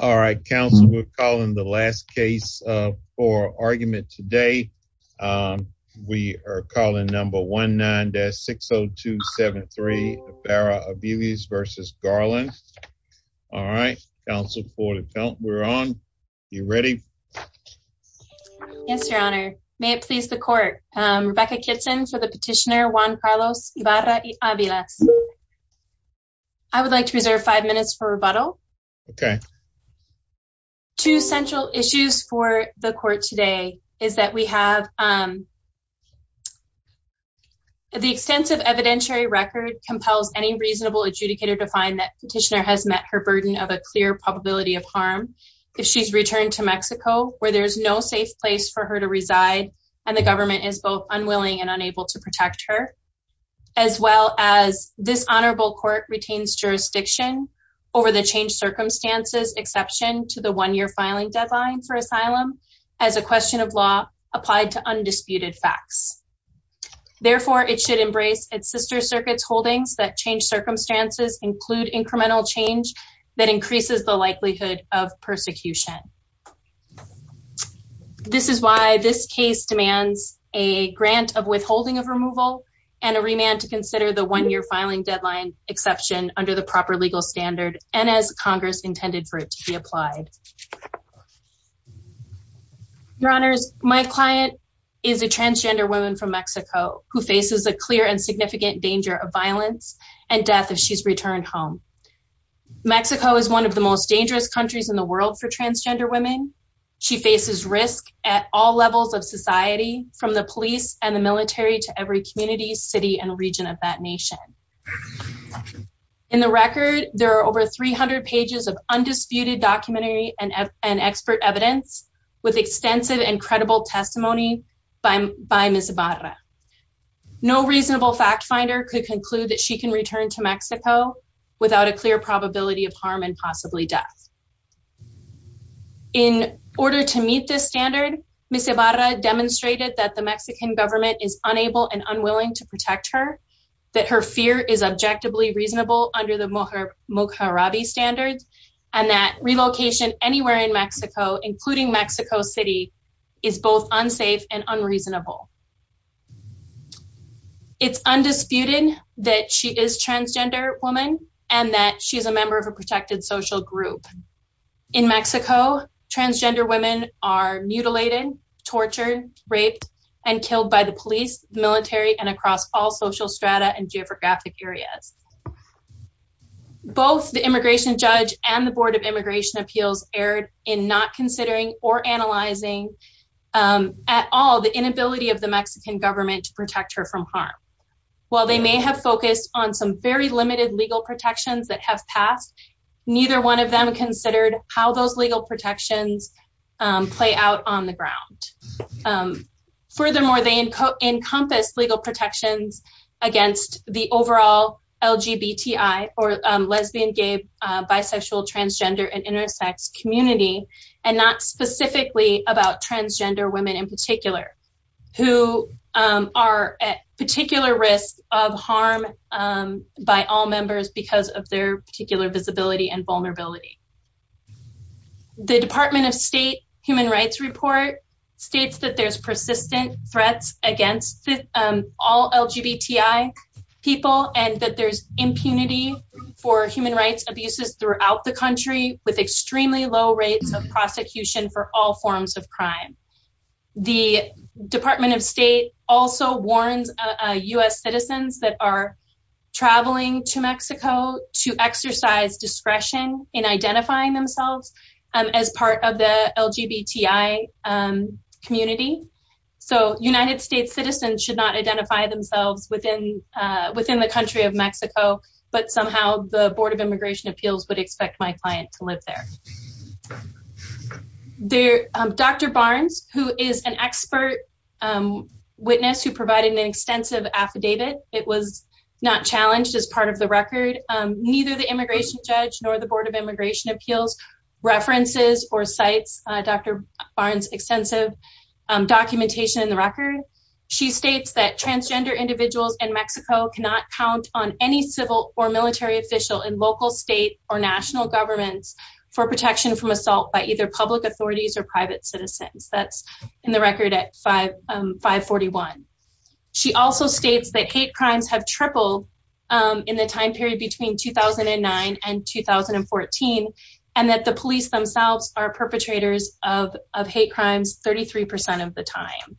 All right council we're calling the last case for argument today. We are calling number 19-60273 Ibarra-Aviles v. Garland. All right council for the count. We're on. You ready? Yes your honor. May it please the court. Rebecca Kitson for the petitioner Juan Carlos Ibarra-Aviles. Yes. I would like to reserve five minutes for rebuttal. Okay. Two central issues for the court today is that we have the extensive evidentiary record compels any reasonable adjudicator to find that petitioner has met her burden of a clear probability of harm if she's returned to Mexico where there's no safe place for her to reside and the government is both unwilling and unable to protect her as well as this honorable court retains jurisdiction over the changed circumstances exception to the one-year filing deadline for asylum as a question of law applied to undisputed facts. Therefore it should embrace its sister circuit's holdings that change circumstances include incremental change that increases the likelihood of persecution. This is why this case demands a grant of withholding of removal and a remand to consider the one-year filing deadline exception under the proper legal standard and as Congress intended for it to be applied. Your honors, my client is a transgender woman from Mexico who faces a clear and significant danger of violence and death if she's returned home. Mexico is one of the most dangerous countries in the world for transgender women. She faces risk at all levels of society from the police and the military to every community city and region of that nation. In the record there are over 300 pages of undisputed documentary and expert evidence with extensive and credible testimony by Ms. Barra. No reasonable fact finder could conclude that she can return to Mexico without a clear probability of harm and possibly death. In order to meet this standard, Ms. Barra demonstrated that the Mexican government is unable and unwilling to protect her, that her fear is objectively reasonable under the Mohrabi standards, and that relocation anywhere in Mexico including Mexico City is both unsafe and unreasonable. It's undisputed that she is transgender woman and that she's a member of a In Mexico, transgender women are mutilated, tortured, raped, and killed by the police, military, and across all social strata and geographic areas. Both the immigration judge and the Board of Immigration Appeals erred in not considering or analyzing at all the inability of the Mexican government to protect her from harm. While they may have focused on some very limited legal protections that have passed, neither one of them considered how those legal protections play out on the ground. Furthermore, they encompass legal protections against the overall LGBTI or lesbian, gay, bisexual, transgender, and intersex community and not specifically about transgender women in particular who are at particular risk of harm by all members because of their particular visibility and vulnerability. The Department of State Human Rights Report states that there's persistent threats against all LGBTI people and that there's impunity for human rights abuses throughout the Department of State also warns U.S. citizens that are traveling to Mexico to exercise discretion in identifying themselves as part of the LGBTI community. United States citizens should not identify themselves within the country of Mexico, but somehow the Board of Immigration Appeals. Witness who provided an extensive affidavit, it was not challenged as part of the record, neither the immigration judge nor the Board of Immigration Appeals references or sites Dr. Barnes extensive documentation in the record. She states that transgender individuals in Mexico cannot count on any civil or military official in local, state, or national governments for protection from 541. She also states that hate crimes have tripled in the time period between 2009 and 2014 and that the police themselves are perpetrators of hate crimes 33% of the time.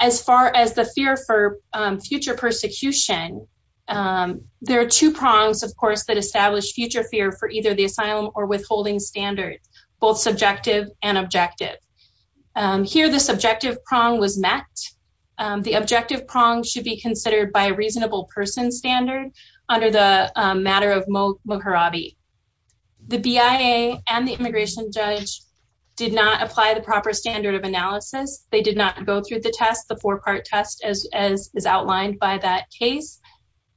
As far as the fear for future persecution, there are two prongs, of course, that establish future fear for either the asylum or withholding standard, both subjective and objective. Here the subjective prong was met. The objective prong should be considered by a reasonable person standard under the matter of Mohrabi. The BIA and the immigration judge did not apply the proper standard of analysis. They did not go through the test, the four-part test as outlined by that case.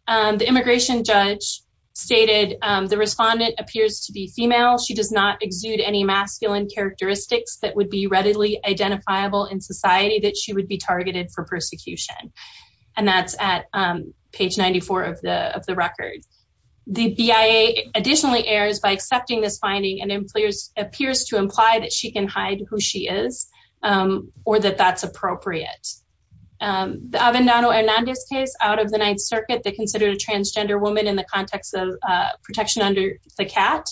The immigration judge stated the respondent appears to be female. She does not exude any masculine characteristics that would be readily identifiable in society that she would be targeted for persecution. And that's at page 94 of the record. The BIA additionally errs by accepting this finding and appears to imply that she can hide who she is or that that's appropriate. The Avendano-Hernandez case out of the Ninth Circuit, they considered a transgender woman in the context of protection under the cat.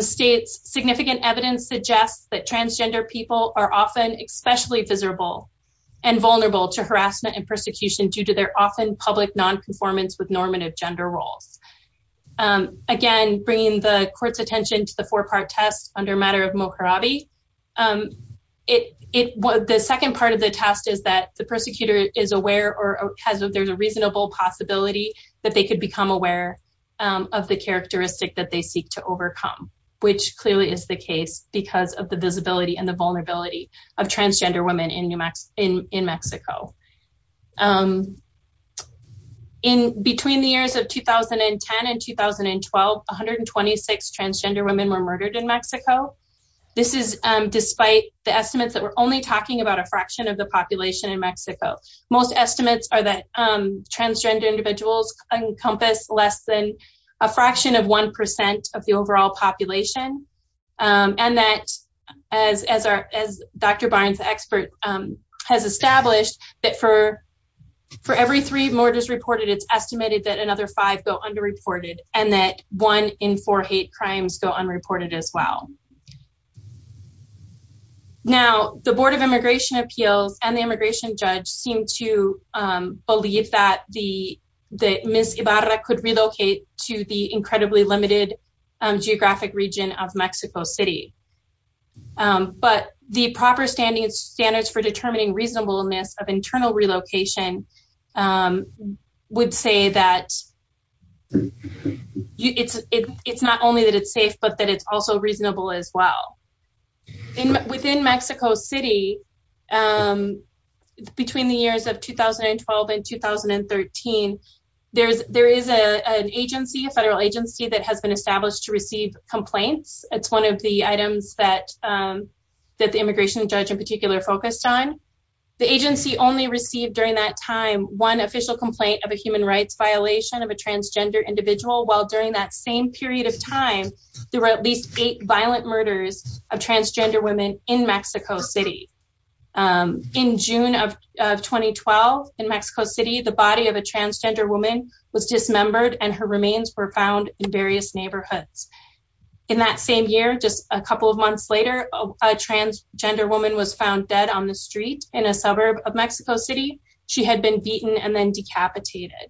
Significant evidence suggests that transgender people are often especially visible and vulnerable to harassment and persecution due to their often public nonconformance with normative gender roles. Again, bringing the court's attention to the four-part test under matter of Mohrabi, the second part of the test is that the persecutor is aware or has a reasonable possibility that they could become aware of the characteristic that they seek to overcome, which clearly is the case because of the visibility and the vulnerability of transgender women in Mexico. Between the years of 2010 and 2012, 126 transgender women were murdered in Mexico. This is despite the estimates that we're only talking about a fraction of the population in Mexico. Most estimates are that transgender individuals encompass less than a fraction of 1% of the overall population. And that as Dr. Barnes, the expert, has established that for every three murders reported, it's estimated that another five go underreported and that one in four hate crimes go unreported as well. Now, the Board of Immigration Appeals and the immigration judge seem to believe that Ms. Ibarra could relocate to the incredibly limited geographic region of Mexico City. But the proper standards for determining reasonableness of internal relocation would say that it's not only that it's safe, but that it's also reasonable as well. Within Mexico City, between the years of 2012 and 2013, there is an agency, a federal agency, that has been established to receive complaints. It's one of the items that the immigration judge in particular focused on. The agency only received during that time one official complaint of a human rights violation of a transgender individual while during that same period of time, there were at least eight violent murders of transgender women in Mexico City. In June of 2012 in Mexico City, the body of a transgender woman was dismembered and her remains were found in various neighborhoods. In that same year, just a couple of months later, a transgender woman was found dead on the street in a suburb of Mexico City. She had been beaten and then decapitated.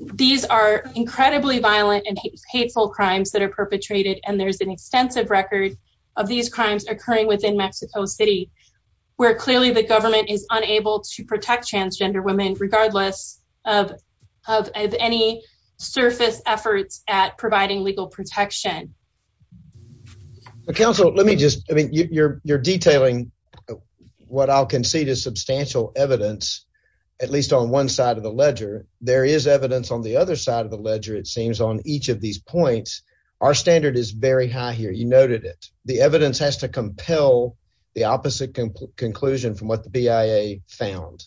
These are incredibly violent and hateful crimes that are perpetrated, and there's an extensive record of these crimes occurring within Mexico City, where clearly the government is unable to protect transgender women regardless of any surface efforts at providing legal protection. So, counsel, let me just, I mean, you're detailing what I'll concede is substantial evidence, at least on one side of the ledger. There is evidence on the other side of the ledger, it seems, on each of these points. Our standard is very high here. You noted it. The evidence has to compel the opposite conclusion from what the BIA found.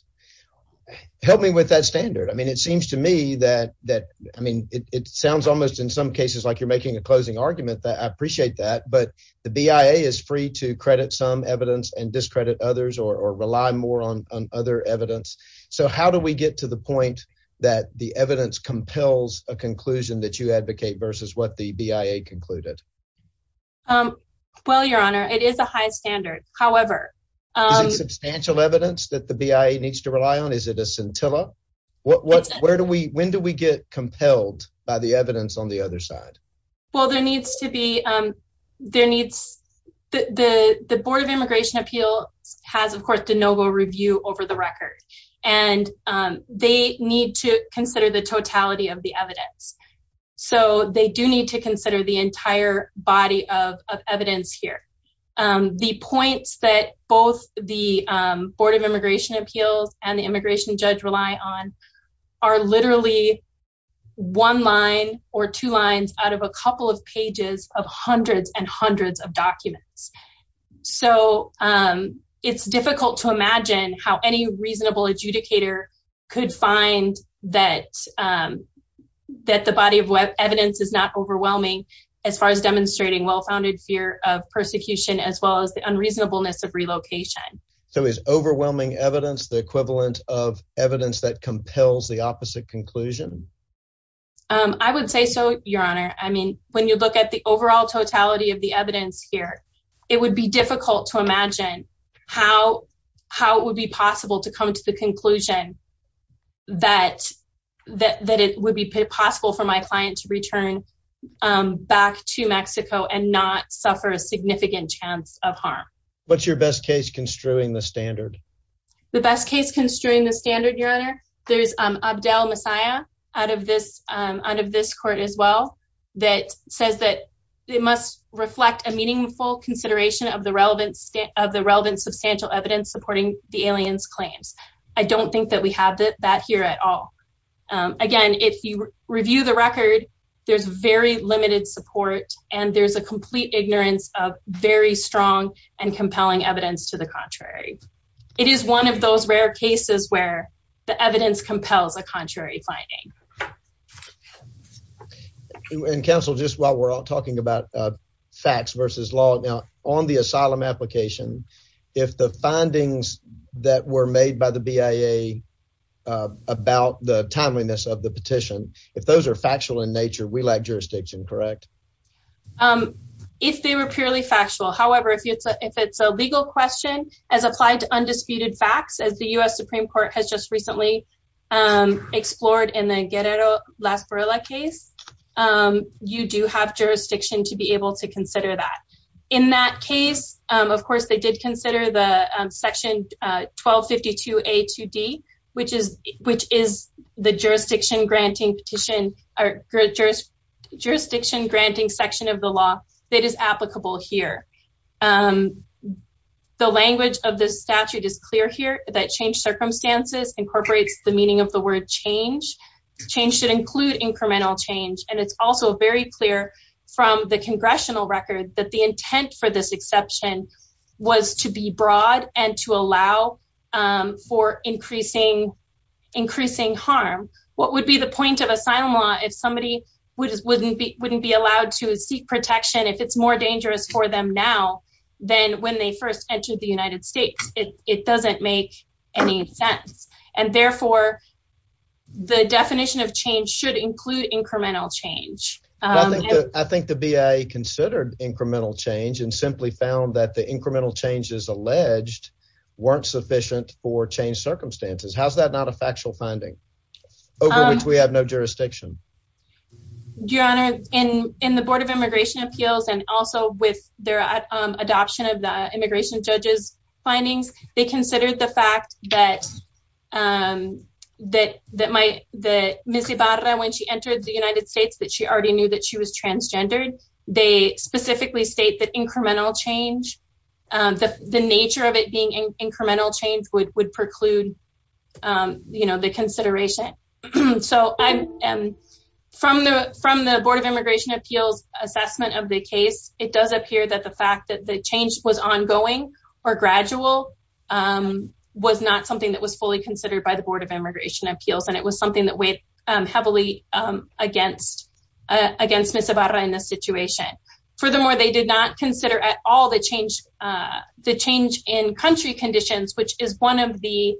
Help me with that standard. I mean, it seems to me that, I mean, it sounds almost in some cases like you're making a closing argument. I appreciate that, but the BIA is free to credit some evidence and discredit others or rely more on other evidence. So, how do we get to the point that the evidence compels a conclusion that you advocate versus what the BIA concluded? Well, Your Honor, it is a high standard. However... Is it substantial evidence that the BIA needs to rely on? Is it a scintilla? When do we get compelled by the evidence on the other side? Well, there needs to be... There needs... The Board of Immigration Appeals has, of course, de novo review over the record, and they need to consider the totality of the evidence. So, they do need to consider the entire body of evidence here. The points that both the Board of Immigration Appeals and the immigration judge rely on are literally one line or two lines out of a couple of pages of hundreds and hundreds of documents. So, it's difficult to imagine how any reasonable adjudicator could find that the body of evidence is not overwhelming as far as demonstrating well-founded fear of persecution as well as the unreasonableness of relocation. So, is overwhelming evidence the equivalent of evidence that compels the opposite conclusion? I would say so, Your Honor. I mean, when you look at the overall totality of the evidence here, it would be difficult to imagine how it would be possible to come to the conclusion that it would be possible for my client to return back to Mexico and not suffer a significant chance of harm. What's your best case construing the standard? The best case construing the standard, Your Honor, there's Abdel Messiah out of this court as well that says that it must reflect a meaningful consideration of the relevant substantial evidence supporting the alien's claims. I don't think that we have that here at all. Again, if you review the record, there's very limited support and there's a complete ignorance of very strong and compelling evidence to the contrary. It is one of those rare cases where the evidence compels a contrary finding. And counsel, just while we're all talking about facts versus law, on the asylum application, if the findings that were made by the BIA about the timeliness of the petition, if those are factual in nature, we lack jurisdiction, correct? If they were purely factual, however, if it's a legal question as applied to undisputed facts as the U.S. Supreme Court has just recently explored in the Guerrero-Las Barrelas case, you do have jurisdiction to be able to consider that. In that case, of course, they did consider the section 1252A2D, which is the jurisdiction-granting section of the law that is applicable here. The language of this statute is clear here that change circumstances incorporates the meaning of the word change. Change should include incremental change. And it's also very clear from the congressional record that the intent for this exception was to be broad and to allow for increasing harm. What would be the point of asylum law if somebody wouldn't be allowed to seek protection if it's more dangerous for them now than when they first entered the United States? It doesn't make any sense. And therefore, the definition of change should include incremental change. I think the BIA considered incremental change and simply found that the incremental changes alleged weren't sufficient for change circumstances. How's that not a factual finding over which we have no jurisdiction? Your Honor, in the Board of Immigration Appeals and also with their adoption of the immigration judge's findings, they considered the fact that that Ms. Ibarra, when she entered the United States, that she already knew that she was transgendered. They specifically state that incremental change, the nature of it being incremental change, would preclude the consideration. So from the Board of Immigration Appeals assessment of the case, it does appear that the fact that the change was ongoing or by the Board of Immigration Appeals and it was something that weighed heavily against Ms. Ibarra in this situation. Furthermore, they did not consider at all the change in country conditions, which would be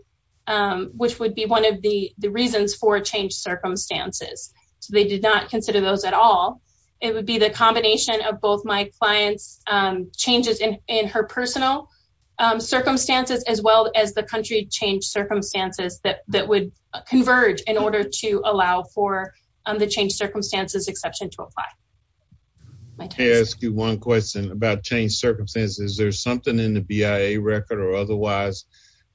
one of the reasons for change circumstances. So they did not consider those at all. It would be the combination of both my client's changes in her personal circumstances as well as the country change circumstances that would converge in order to allow for the change circumstances exception to apply. Can I ask you one question about change circumstances? Is there something in the BIA record or otherwise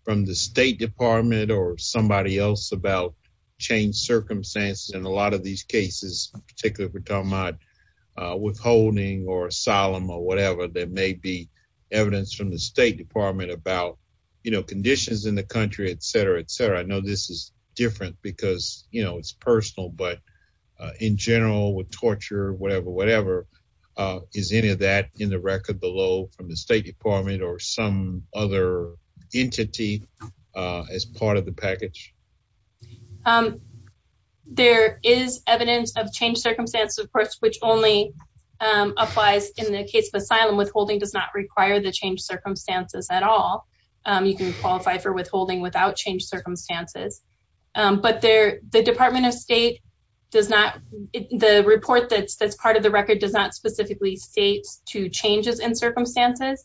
from the State Department or somebody else about change circumstances? In a lot of these cases, particularly if we're talking about withholding or asylum or whatever, there may be evidence from the State Department about, you know, conditions in the country, et cetera, et cetera. I know this is different because, you know, it's personal, but in general with torture, whatever, whatever, is any of that in the record below from the State Department or some other entity as part of the package? There is evidence of change circumstances, of course, which only applies in the case of asylum. Withholding does not require the change circumstances at all. You can qualify for withholding without change circumstances, but the Department of State does not, the report that's part of the record does not specifically state to changes in circumstances.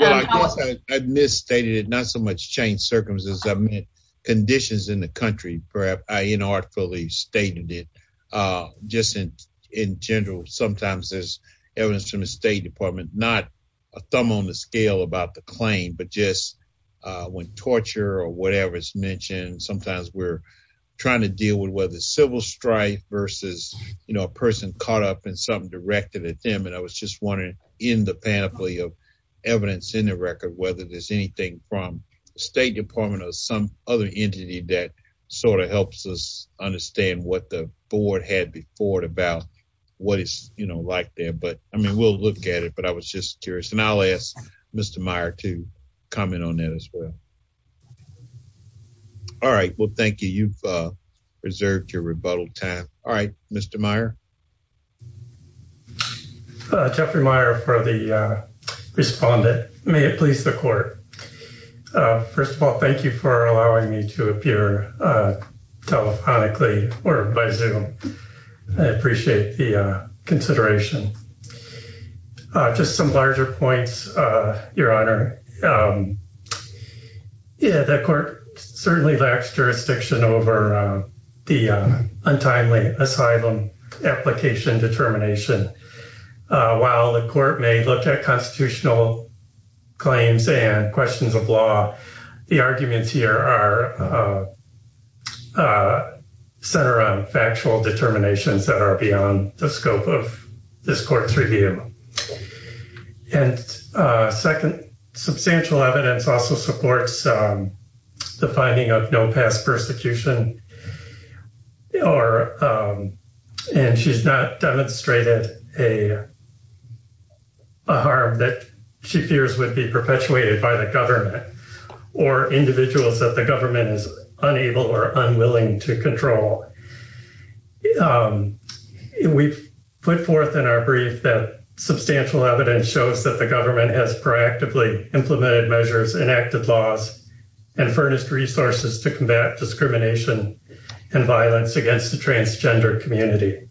I misstated it, not so much change circumstances, I meant conditions in the country, perhaps I misstated it. Sometimes there's evidence from the State Department, not a thumb on the scale about the claim, but just when torture or whatever is mentioned, sometimes we're trying to deal with whether civil strife versus, you know, a person caught up in something directed at them. And I was just wondering in the panoply of evidence in the record, whether there's anything from the State Department or some other entity that sort of helps us understand what the but I mean, we'll look at it, but I was just curious. And I'll ask Mr. Meyer to comment on that as well. All right, well, thank you. You've reserved your rebuttal time. All right, Mr. Meyer. Jeffrey Meyer for the respondent. May it please the court. First of all, thank you for allowing me to appear telephonically or by Zoom. I appreciate the consideration. Just some larger points, Your Honor. Yeah, the court certainly lacks jurisdiction over the untimely asylum application determination. While the court may look at constitutional claims and questions of law, the arguments here are centered on factual determinations that are beyond the scope of this court's review. And second, substantial evidence also supports the finding of no past persecution or, and she's not demonstrated a harm that she fears would be perpetuated by the government or individuals that the government is unable or unwilling to control. We've put forth in our brief that substantial evidence shows that the government has proactively implemented measures, enacted laws, and furnished resources to combat discrimination and violence against the transgender community.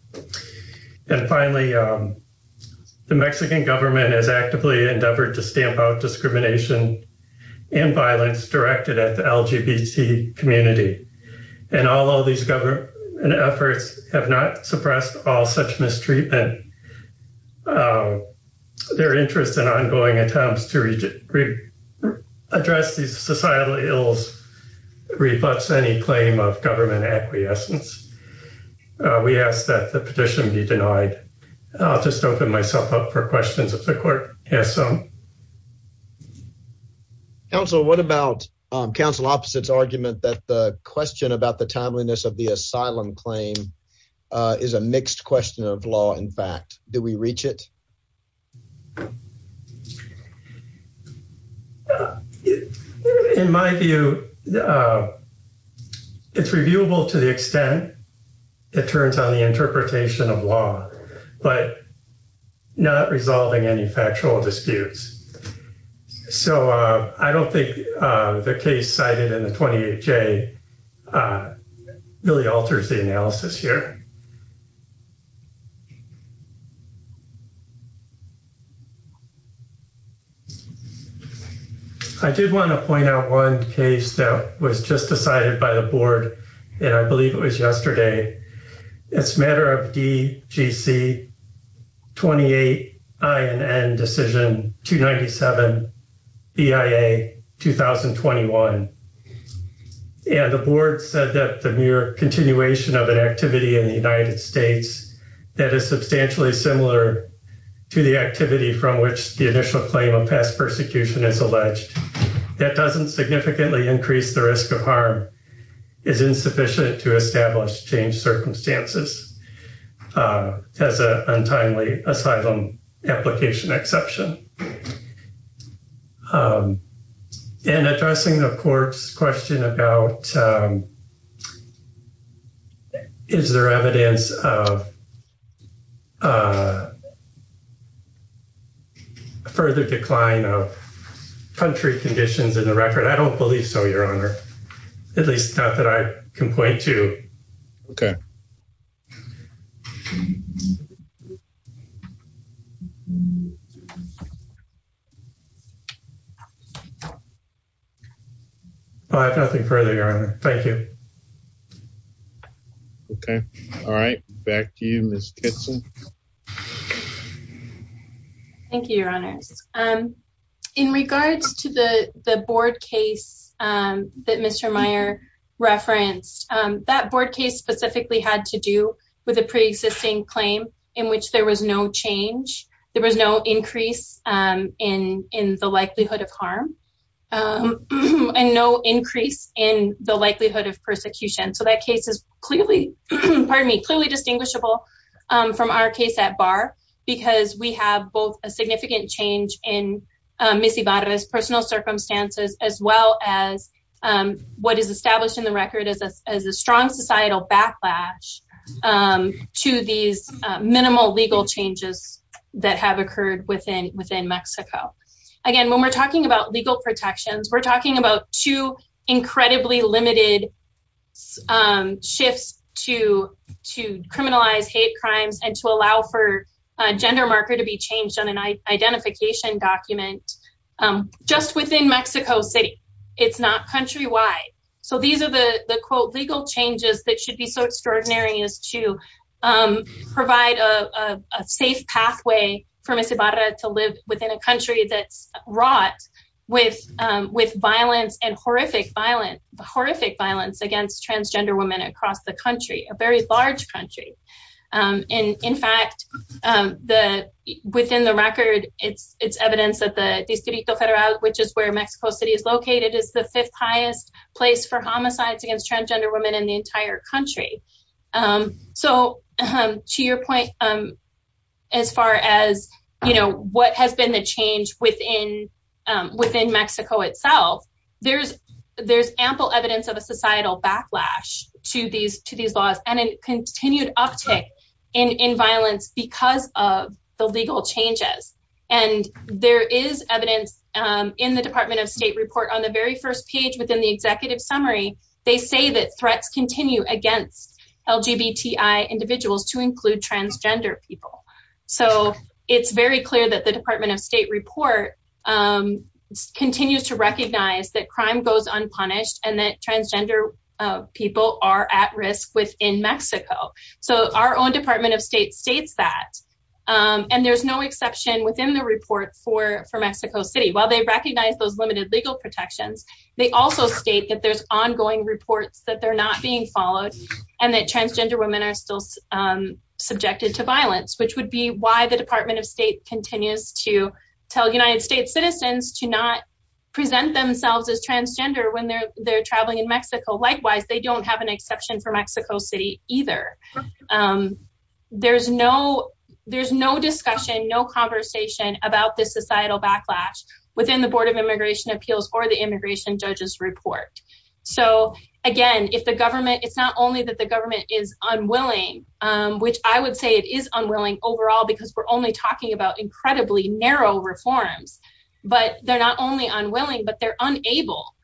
And finally, the Mexican government has actively endeavored to stamp out discrimination and violence directed at the LGBT community. And although these government efforts have not suppressed all such mistreatment, their interest in ongoing attempts to address these societal ills reflects any claim of government acquiescence. We ask that the petition be denied. I'll just open myself up for questions if the court has some. Counsel, what about counsel opposite's argument that the question about the timeliness of the asylum claim is a mixed question of law? In fact, do we reach it? In my view, it's reviewable to the extent it turns on the interpretation of law, but not resolving any factual disputes. So I don't think the case cited in the 28J really alters the analysis here. I did want to point out one case that was just decided by the board, and I believe it was yesterday. It's a matter of DGC 28INN decision 297 BIA 2021. And the board said that the mere continuation of an activity in the United States that is substantially similar to the activity from which the initial claim of past persecution is alleged that doesn't significantly increase the risk of harm is insufficient to establish changed circumstances as an untimely asylum application exception. And addressing the court's question about is there evidence of a further decline of country conditions in the record? I don't believe so, Your Honor. At least not that I can point to. Okay. All right. Nothing further, Your Honor. Thank you. Okay. All right. Back to you, Ms. Kitson. Thank you, Your Honors. In regards to the board case that Mr. Meyer referenced, that board case specifically had to do with a pre-existing claim in which there was no change, there was no increase in the likelihood of harm and no increase in the likelihood of persecution. So that case is clearly, pardon me, clearly distinguishable from our case at bar because we have both a significant change in Ms. Ibarra's personal circumstances as well as what is established in the record as a strong societal backlash to these minimal legal changes that have occurred within Mexico. Again, when we're talking about legal protections, we're talking about two incredibly limited shifts to criminalize hate crimes and to allow for gender marker to be changed on an identification document just within Mexico City. It's not countrywide. So these are the, quote, legal changes that should be so extraordinary as to provide a safe pathway for Ms. Ibarra to live within a country that's wrought with violence and horrific violence against transgender women across the country, a very large country. And in fact, within the record, it's evidence that the Distrito Federal, which is where Mexico City is located, is the fifth highest place for homicides against transgender women in the entire country. So to your point, as far as what has been the change within Mexico itself, there's ample evidence of a societal backlash to these laws and a continued uptick in violence because of the legal changes. And there is evidence in the Department of State report on the very first within the executive summary, they say that threats continue against LGBTI individuals to include transgender people. So it's very clear that the Department of State report continues to recognize that crime goes unpunished and that transgender people are at risk within Mexico. So our own Department of State states that. And there's no exception within the report for Mexico City. While they recognize those limited legal protections, they also state that there's ongoing reports that they're not being followed and that transgender women are still subjected to violence, which would be why the Department of State continues to tell United States citizens to not present themselves as transgender when they're traveling in Mexico. Likewise, they don't have an exception for Mexico City either. There's no discussion, no conversation about this societal backlash within the Board of Immigration Appeals or the immigration judges report. So again, if the government, it's not only that the government is unwilling, which I would say it is unwilling overall, because we're only talking about incredibly narrow reforms, but they're not only unwilling, but they're unable.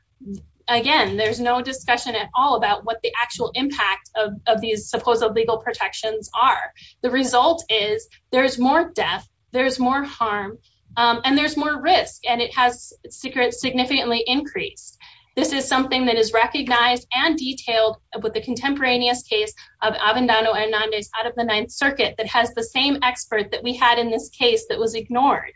Again, there's no discussion at all about what the actual impact of these supposed legal protections are. The result is there's more death, there's more harm, and there's more risk. And it has significantly increased. This is something that is recognized and detailed with the contemporaneous case of Avendano Hernandez out of the Ninth Circuit that has the same expert that we had in this case that was ignored.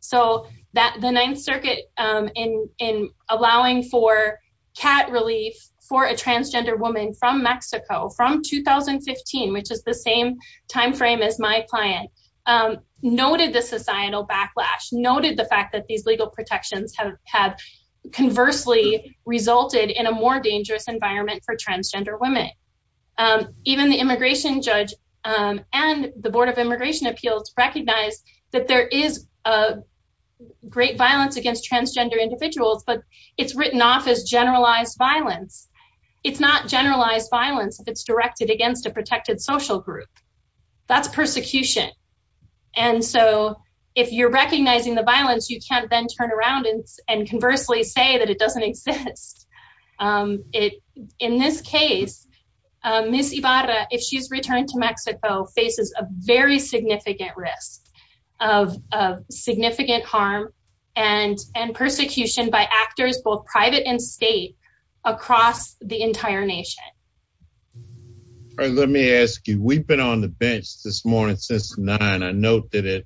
So that the Ninth Circuit in allowing for cat relief for a transgender woman from Mexico from 2015, which is the same time frame as my client, noted the societal backlash, noted the fact that these legal protections have conversely resulted in a more dangerous environment for transgender women. Even the immigration judge and the Board of Immigration Appeals recognize that there is great violence against transgender individuals, but it's written off as generalized violence. It's not generalized violence if it's directed against a protected social group. That's persecution. And so if you're recognizing the violence, you can't then turn around and conversely say that it doesn't exist. In this case, Miss Ibarra, if she's returned to Mexico, faces a very significant risk of significant harm and persecution by actors, both private and state, across the entire nation. Let me ask you, we've been on the bench this morning since 9. I note that at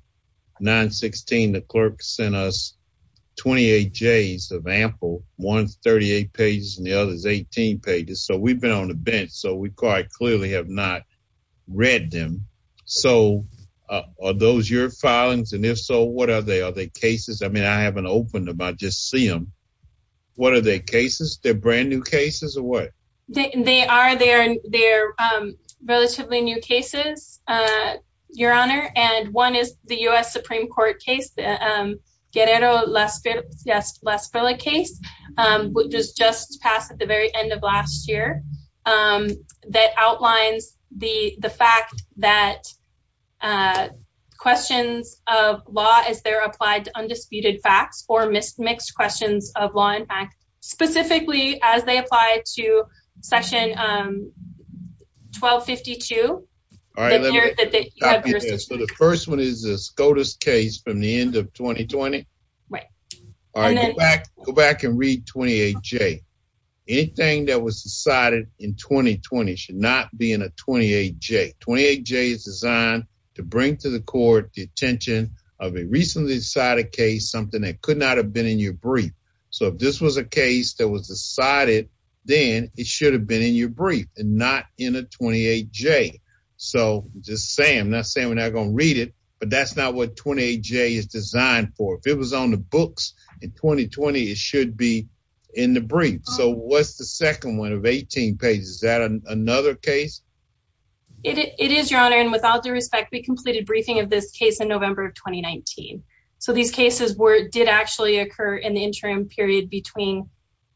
9.16, the clerk sent us 28 J's of ample, one's 38 pages and the other is 18 pages. So we've been on the bench, so we quite clearly have not read them. So are those your filings? And if so, what are they? I mean, I haven't opened them. I just see them. What are their cases? They're brand new cases or what? They are. They're relatively new cases, Your Honor. And one is the U.S. Supreme Court case, Guerrero-Las Villas case, which was just passed at the very end of last year, that outlines the fact that questions of law as they're applied to undisputed facts or mixed questions of law and fact, specifically as they apply to Section 1252. All right, let me stop you there. So the first one is the SCOTUS case from the end of 2020? Right. Go back and read 28 J. Anything that was decided in 2020 should not be in a 28 J. 28 J is designed to bring to the court the attention of a recently decided case, something that could not have been in your brief. So if this was a case that was decided, then it should have been in your brief and not in a 28 J. So just saying, I'm not saying we're not going to read it, that's not what 28 J is designed for. If it was on the books in 2020, it should be in the brief. So what's the second one of 18 pages? Is that another case? It is, Your Honor. And without the respect, we completed briefing of this case in November of 2019. So these cases did actually occur in the interim period between...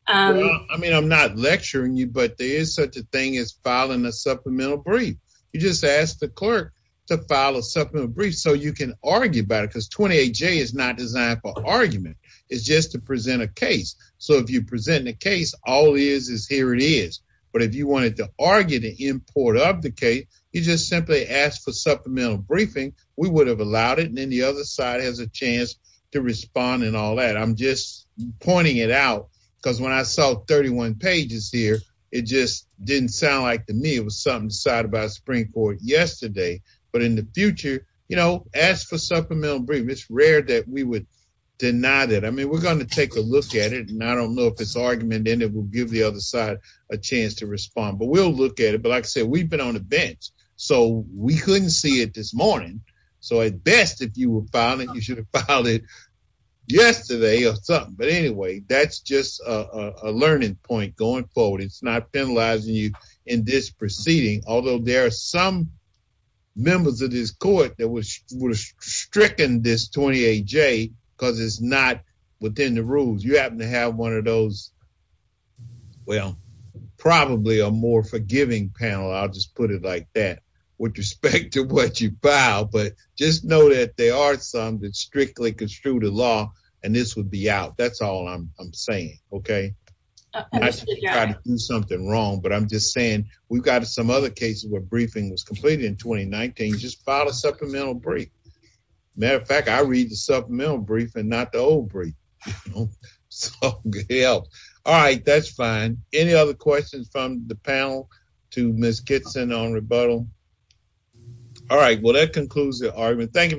I mean, I'm not lecturing you, but there is such a thing as filing a supplemental brief. You just ask the clerk to file a supplemental brief so you can argue about it because 28 J is not designed for argument. It's just to present a case. So if you present the case, all it is is here it is. But if you wanted to argue to import up the case, you just simply ask for supplemental briefing. We would have allowed it. And then the other side has a chance to respond and all that. I'm just pointing it out because when I saw 31 pages here, it just didn't sound like to me it was something decided by the Supreme Court yesterday. But in the future, you know, ask for supplemental brief. It's rare that we would deny that. I mean, we're going to take a look at it, and I don't know if it's argument, and it will give the other side a chance to respond. But we'll look at it. But like I said, we've been on the bench, so we couldn't see it this morning. So at best, if you were filing, you should have filed it yesterday or something. But anyway, that's just a learning point going forward. It's not penalizing you in this proceeding. Although there are some members of this court that was stricken this 28 J because it's not within the rules. You happen to have one of those. Well, probably a more forgiving panel, I'll just put it like that, with respect to what you file. But just know that they are some that strictly construe the law. And this would be out. That's all I'm saying. Okay. Something wrong. But I'm just saying, we've got some other cases where briefing was completed in 2019. Just file a supplemental brief. Matter of fact, I read the supplemental brief and not the old brief. All right, that's fine. Any other questions from the panel to Miss Kitson on rebuttal? All right, well, that concludes the argument. Thank you.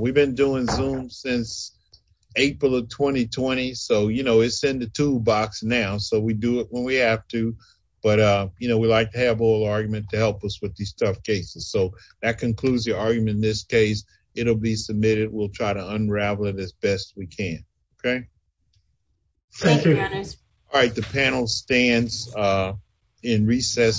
We've been doing Zoom since April of 2020. So, you know, it's in the toolbox now. So we do it when we have to. But, you know, we like to have a little argument to help us with these tough cases. So that concludes the argument in this case. It'll be submitted. We'll try to unravel it as best we can. Okay. Thank you. All right. The panel stands in recess.